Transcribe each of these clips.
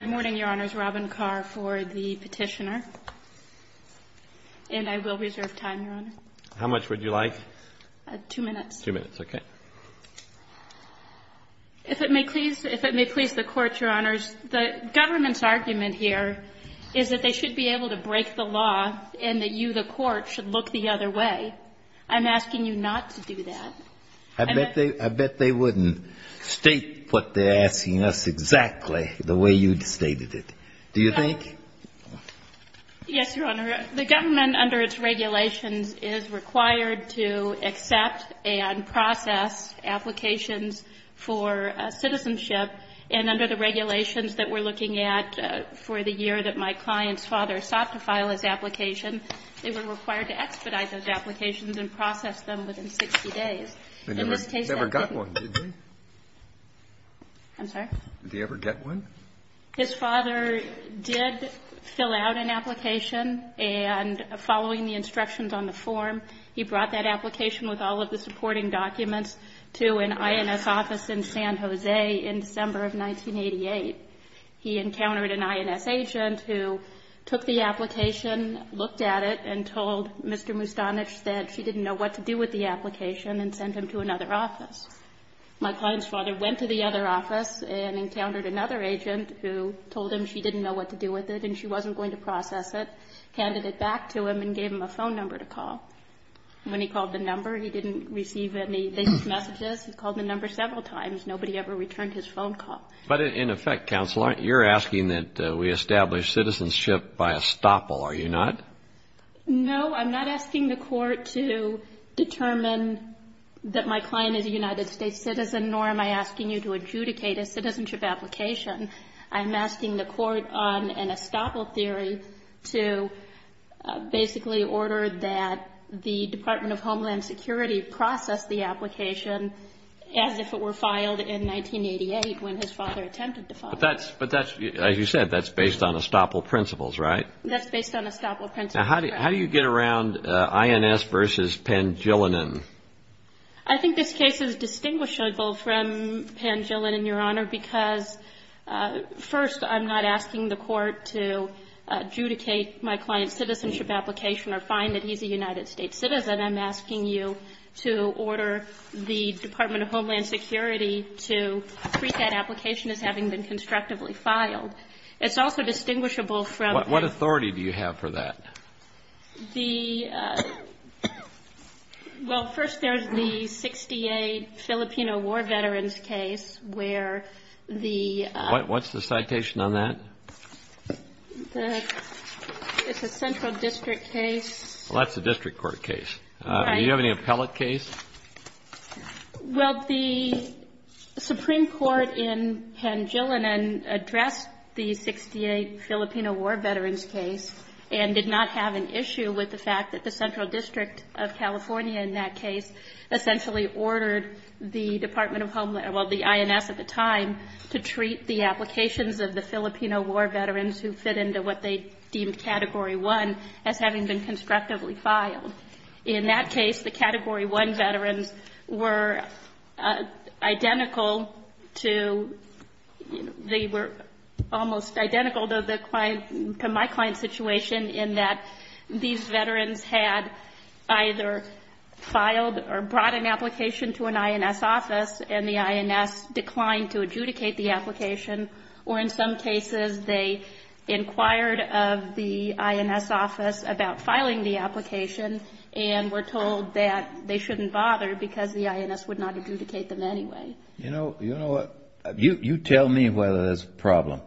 Good morning, Your Honors. Robin Carr for the petitioner. And I will reserve time, Your Honor. How much would you like? Two minutes. Two minutes, okay. If it may please the Court, Your Honors, the government's argument here is that they should be able to break the law and that you, the Court, should look the other way. I'm asking you not to do that. I bet they wouldn't state what they're asking us exactly the way you stated it. Do you think? Yes, Your Honor. The government, under its regulations, is required to accept and process applications for citizenship. And under the regulations that we're looking at for the year that my client's father sought to file his application, they were required to expedite those applications and process them within 60 days. He never got one, did he? I'm sorry? Did he ever get one? His father did fill out an application, and following the instructions on the form, he brought that application with all of the supporting documents to an INS office in San Jose in December of 1988. He encountered an INS agent who took the application, looked at it, and told Mr. Mustanich that she didn't know what to do with the application and sent him to another office. My client's father went to the other office and encountered another agent who told him she didn't know what to do with it and she wasn't going to process it, handed it back to him and gave him a phone number to call. When he called the number, he didn't receive any basic messages. He called the number several times. Nobody ever returned his phone call. But in effect, Counselor, you're asking that we establish citizenship by estoppel, are you not? No, I'm not asking the court to determine that my client is a United States citizen, nor am I asking you to adjudicate a citizenship application. I'm asking the court on an estoppel theory to basically order that the Department of Homeland Security process the application as if it were filed in 1988 when his father attempted to file it. But that's, as you said, that's based on estoppel principles, right? That's based on estoppel principles, correct. Now, how do you get around INS versus Pangilinan? I think this case is distinguishable from Pangilinan, Your Honor, because first, I'm not asking the court to adjudicate my client's citizenship application or find that he's a United States citizen. I'm asking you to order the Department of Homeland Security to treat that application as having been constructively filed. It's also distinguishable from the – What authority do you have for that? The – well, first there's the 68 Filipino war veterans case where the – What's the citation on that? It's a central district case. Well, that's a district court case. Right. Do you have any appellate case? Well, the Supreme Court in Pangilinan addressed the 68 Filipino war veterans case and did not have an issue with the fact that the Central District of California in that case essentially ordered the Department of Homeland – well, the INS at the time to treat the applications of the Filipino war veterans who fit into what they deemed Category 1 as having been constructively filed. In that case, the Category 1 veterans were identical to – they were almost identical to the client – to my client's situation in that these veterans had either filed or brought an application to an INS office and the INS declined to adjudicate the application or in some cases they inquired of the INS office about filing the application and were told that they shouldn't bother because the INS would not adjudicate them anyway. You know what? You tell me whether there's a problem.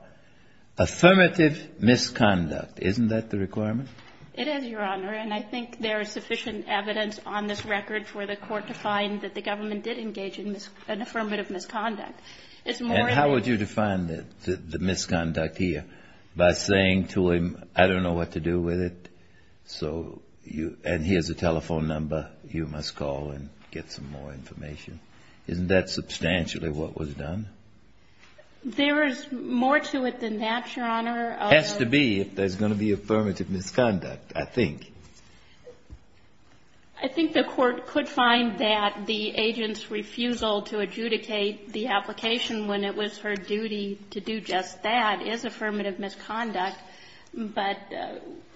Affirmative misconduct. Isn't that the requirement? It is, Your Honor, and I think there is sufficient evidence on this record for the court to find that the government did engage in an affirmative misconduct. And how would you define the misconduct here? By saying to him, I don't know what to do with it, and he has a telephone number, you must call and get some more information. Isn't that substantially what was done? There is more to it than that, Your Honor. Has to be if there's going to be affirmative misconduct, I think. I think the court could find that the agent's refusal to adjudicate the application when it was her duty to do just that is affirmative misconduct, but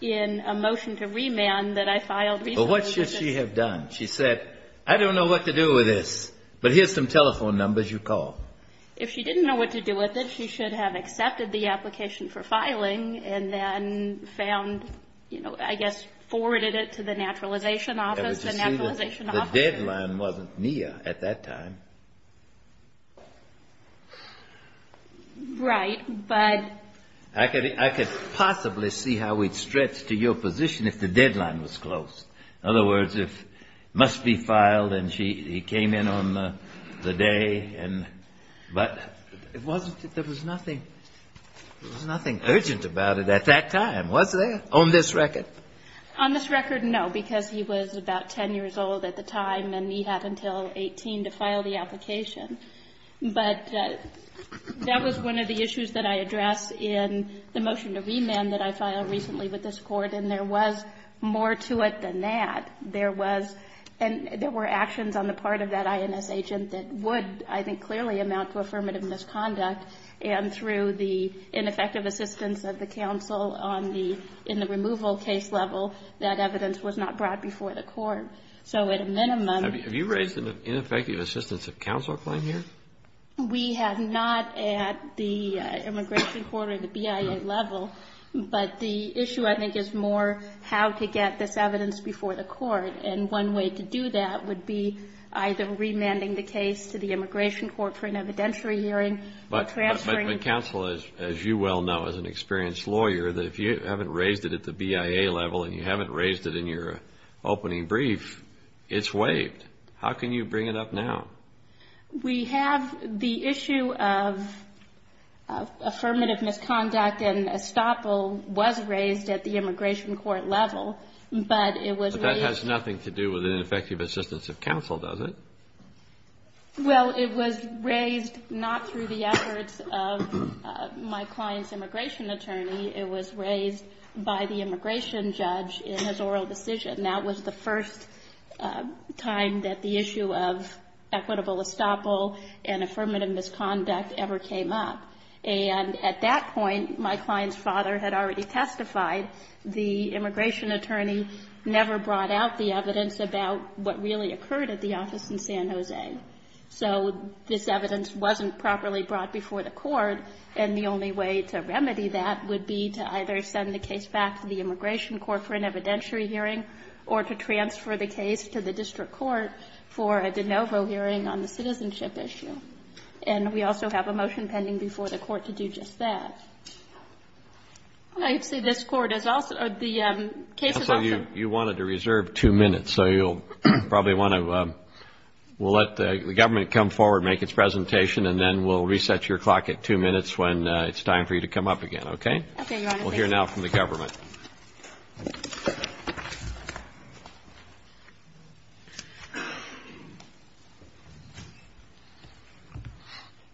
in a motion to remand that I filed recently. But what should she have done? She said, I don't know what to do with this, but here's some telephone numbers, you call. If she didn't know what to do with it, she should have accepted the application for filing and then found, you know, I guess forwarded it to the naturalization office. The naturalization office. The deadline wasn't near at that time. Right. But. I could possibly see how we'd stretch to your position if the deadline was close. In other words, it must be filed and she came in on the day. But there was nothing urgent about it at that time, was there, on this record? On this record, no, because he was about 10 years old at the time and he had until 18 to file the application. But that was one of the issues that I addressed in the motion to remand that I filed recently with this Court, and there was more to it than that. There was, and there were actions on the part of that INS agent that would, I think, clearly amount to affirmative misconduct, and through the ineffective assistance of the counsel in the removal case level, that evidence was not brought before the Court. So at a minimum. Have you raised an ineffective assistance of counsel claim here? We have not at the immigration court or the BIA level. But the issue, I think, is more how to get this evidence before the Court. And one way to do that would be either remanding the case to the immigration court for an evidentiary hearing or transferring. But counsel, as you well know as an experienced lawyer, that if you haven't raised it at the BIA level and you haven't raised it in your opening brief, it's waived. How can you bring it up now? We have the issue of affirmative misconduct and estoppel was raised at the immigration court level, but it was raised. But that has nothing to do with an ineffective assistance of counsel, does it? Well, it was raised not through the efforts of my client's immigration attorney. It was raised by the immigration judge in his oral decision. And that was the first time that the issue of equitable estoppel and affirmative misconduct ever came up. And at that point, my client's father had already testified. The immigration attorney never brought out the evidence about what really occurred at the office in San Jose. So this evidence wasn't properly brought before the Court, and the only way to remedy that would be to either send the case back to the immigration court for an evidentiary hearing or to transfer the case to the district court for a de novo hearing on the citizenship issue. And we also have a motion pending before the Court to do just that. I see this Court is also the case is also. You wanted to reserve two minutes, so you'll probably want to. We'll let the government come forward, make its presentation, and then we'll reset your clock at two minutes when it's time for you to come up again, okay? Okay, Your Honor. We'll hear now from the government.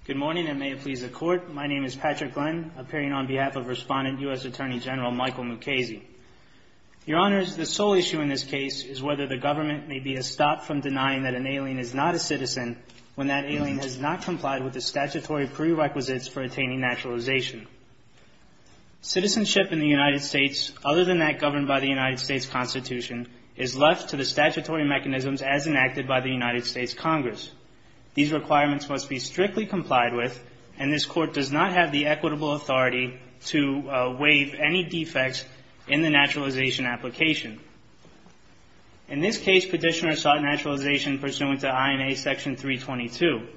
Good morning, and may it please the Court. My name is Patrick Glenn, appearing on behalf of Respondent U.S. Attorney General Michael Mukasey. Your Honors, the sole issue in this case is whether the government may be a stop from denying that an alien is not a citizen when that alien has not complied with the statutory prerequisites for attaining naturalization. Citizenship in the United States, other than that governed by the United States Constitution, is left to the statutory mechanisms as enacted by the United States Congress. These requirements must be strictly complied with, and this Court does not have the equitable authority to waive any defects in the naturalization application. In this case, Petitioner sought naturalization pursuant to INA Section 322.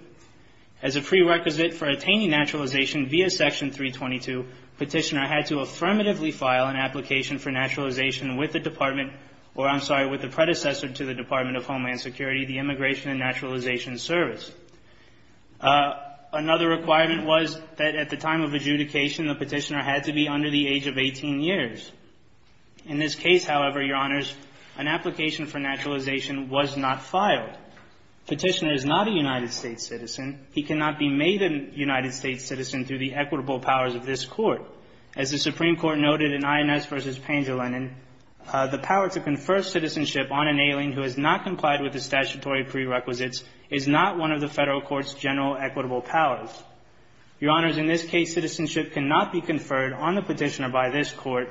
As a prerequisite for attaining naturalization via Section 322, Petitioner had to affirmatively file an application for naturalization with the Department, or I'm sorry, with the predecessor to the Department of Homeland Security, the Immigration and Naturalization Service. Another requirement was that at the time of adjudication, the Petitioner had to be under the age of 18 years. In this case, however, Your Honors, an application for naturalization was not filed. Petitioner is not a United States citizen. He cannot be made a United States citizen through the equitable powers of this Court. As the Supreme Court noted in Inez v. Pangilinan, the power to confer citizenship on an alien who has not complied with the statutory prerequisites is not one of the Federal Court's general equitable powers. Your Honors, in this case, citizenship cannot be conferred on the Petitioner by this Court,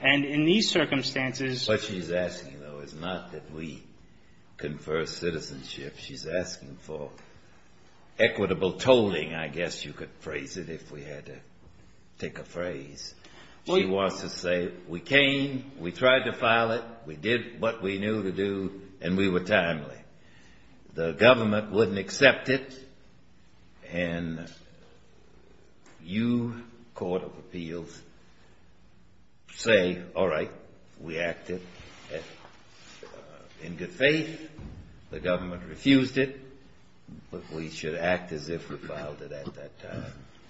and in these circumstances ---- What she's asking, though, is not that we confer citizenship. She's asking for equitable tolling, I guess you could phrase it, if we had to take a phrase. She wants to say, we came, we tried to file it, we did what we knew to do, and we were timely. The government wouldn't accept it, and you, Court of Appeals, say, all right, we in good faith, the government refused it, but we should act as if we filed it at that time.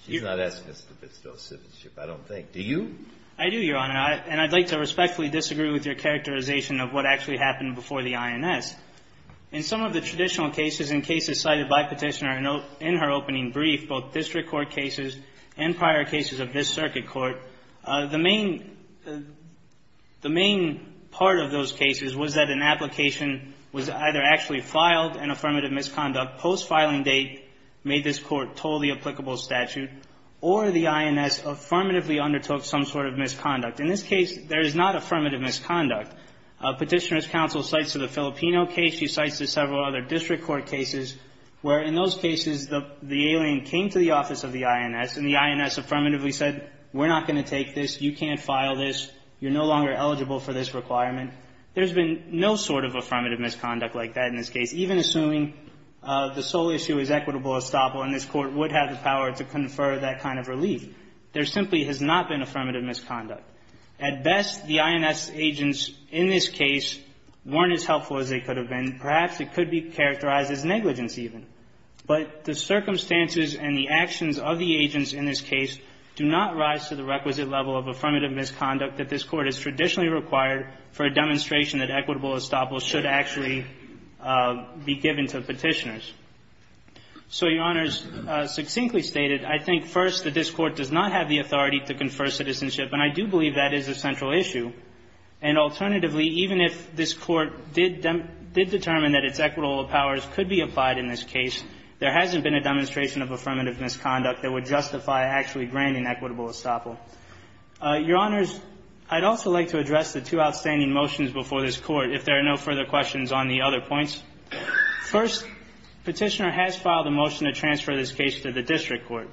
She's not asking us to bestow citizenship, I don't think. Do you? I do, Your Honor, and I'd like to respectfully disagree with your characterization of what actually happened before the INS. In some of the traditional cases and cases cited by Petitioner in her opening brief, both district court cases and prior cases of this circuit court, the main ---- the application was either actually filed, an affirmative misconduct, post-filing date, made this court totally applicable statute, or the INS affirmatively undertook some sort of misconduct. In this case, there is not affirmative misconduct. Petitioner's counsel cites to the Filipino case. She cites to several other district court cases where, in those cases, the alien came to the office of the INS, and the INS affirmatively said, we're not going to take this, you can't file this, you're no longer eligible for this requirement, there's been no sort of affirmative misconduct like that in this case, even assuming the sole issue is equitable estoppel, and this court would have the power to confer that kind of relief. There simply has not been affirmative misconduct. At best, the INS agents in this case weren't as helpful as they could have been. Perhaps it could be characterized as negligence even. But the circumstances and the actions of the agents in this case do not rise to the requisite level of affirmative misconduct that this court has traditionally required for a demonstration that equitable estoppel should actually be given to Petitioner's. So, Your Honors, succinctly stated, I think, first, that this Court does not have the authority to confer citizenship, and I do believe that is a central issue. And alternatively, even if this Court did determine that its equitable powers could be applied in this case, there hasn't been a demonstration of affirmative misconduct that would justify actually granting equitable estoppel. Your Honors, I'd also like to address the two outstanding motions before this Court, if there are no further questions on the other points. First, Petitioner has filed a motion to transfer this case to the district court.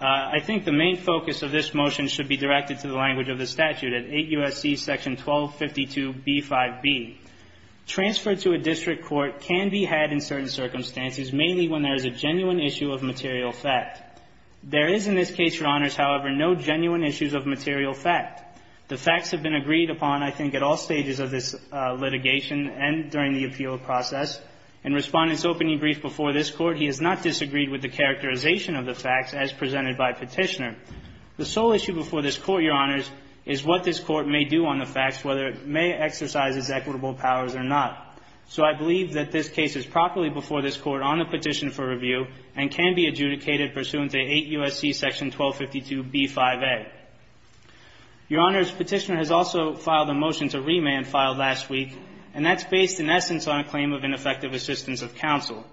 I think the main focus of this motion should be directed to the language of the statute at 8 U.S.C. section 1252b5b. Transfer to a district court can be had in certain circumstances, mainly when there is a genuine issue of material fact. There is in this case, Your Honors, however, no genuine issues of material fact. The facts have been agreed upon, I think, at all stages of this litigation and during the appeal process. In Respondent's opening brief before this Court, he has not disagreed with the characterization of the facts as presented by Petitioner. The sole issue before this Court, Your Honors, is what this Court may do on the facts, whether it may exercise its equitable powers or not. So I believe that this case is properly before this Court on a petition for review and can be adjudicated pursuant to 8 U.S.C. section 1252b5a. Your Honors, Petitioner has also filed a motion to remand file last week, and that's based in essence on a claim of ineffective assistance of counsel.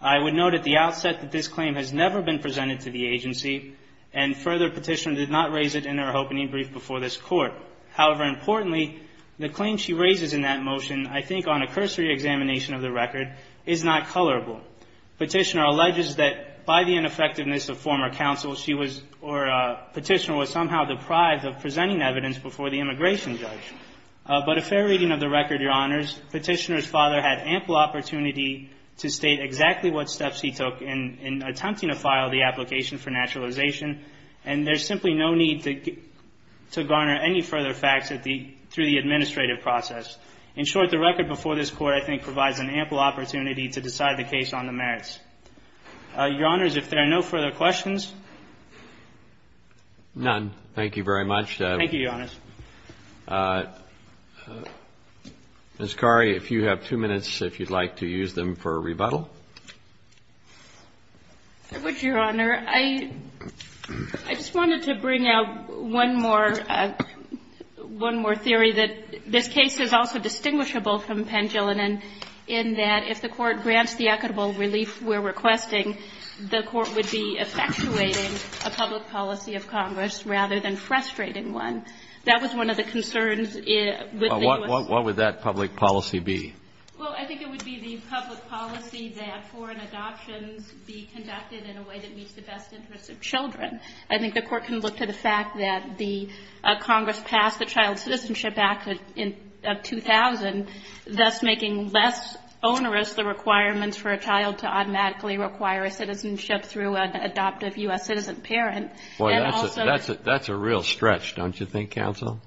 I would note at the outset that this claim has never been presented to the agency, and further, Petitioner did not raise it in her opening brief before this Court. However, importantly, the claim she raises in that motion, I think on a cursory examination of the record, is not colorable. Petitioner alleges that by the ineffectiveness of former counsel, she was or Petitioner was somehow deprived of presenting evidence before the immigration judge. But a fair reading of the record, Your Honors, Petitioner's father had ample opportunity to state exactly what steps he took in attempting to file the application for naturalization, and there's simply no need to garner any further facts through the administrative process. In short, the record before this Court I think provides an ample opportunity to decide the case on the merits. Your Honors, if there are no further questions? None. Thank you very much. Thank you, Your Honors. Ms. Khoury, if you have two minutes, if you'd like to use them for rebuttal. I would, Your Honor. I just wanted to bring out one more theory that this case is also distinguishable from Pendulinum in that if the Court grants the equitable relief we're requesting, the Court would be effectuating a public policy of Congress rather than frustrating one. That was one of the concerns with the U.S. Well, what would that public policy be? Well, I think it would be the public policy that foreign adoptions be conducted in a way that meets the best interests of children. I think the Court can look to the fact that the Congress passed the Child Citizenship Act of 2000, thus making less onerous the requirements for a child to automatically require a citizenship through an adoptive U.S. citizen parent. That's a real stretch, don't you think, counsel?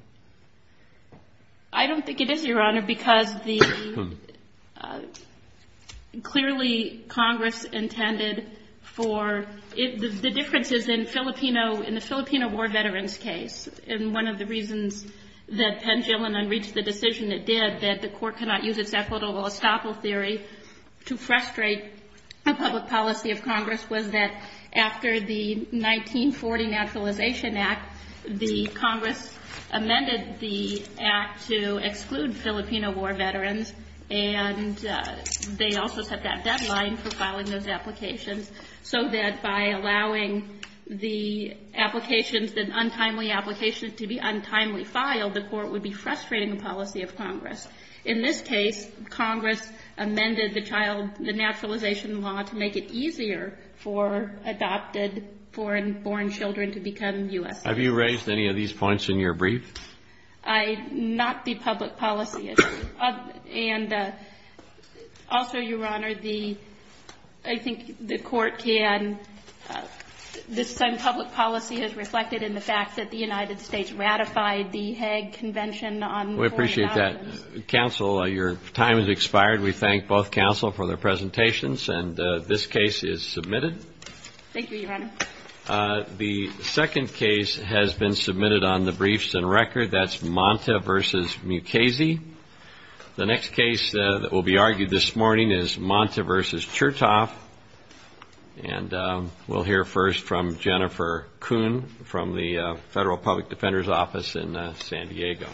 I don't think it is, Your Honor, because clearly Congress intended for the differences in the Filipino war veterans case, and one of the reasons that Pendulinum reached the decision it did, that the Court cannot use its equitable estoppel theory to frustrate a public policy of Congress, was that after the 1940 Naturalization Act, the Congress amended the act to exclude Filipino war veterans, and they also set that deadline for filing those applications, so that by allowing the applications, the untimely applications to be untimely filed, the Court would be frustrating the policy of Congress. In this case, Congress amended the child, the naturalization law to make it easier for adopted foreign-born children to become U.S. citizens. Have you raised any of these points in your brief? Not the public policy issue. And also, Your Honor, the, I think the Court can, this time public policy is reflected in the fact that the United States ratified the Hague Convention on Foreign Islands. We appreciate that. Counsel, your time has expired. We thank both counsel for their presentations, and this case is submitted. Thank you, Your Honor. The second case has been submitted on the briefs and record. That's Monta v. Mukasey. The next case that will be argued this morning is Monta v. Chertoff, and we'll hear first from Jennifer Kuhn from the Federal Public Defender's Office in San Diego. Thank you.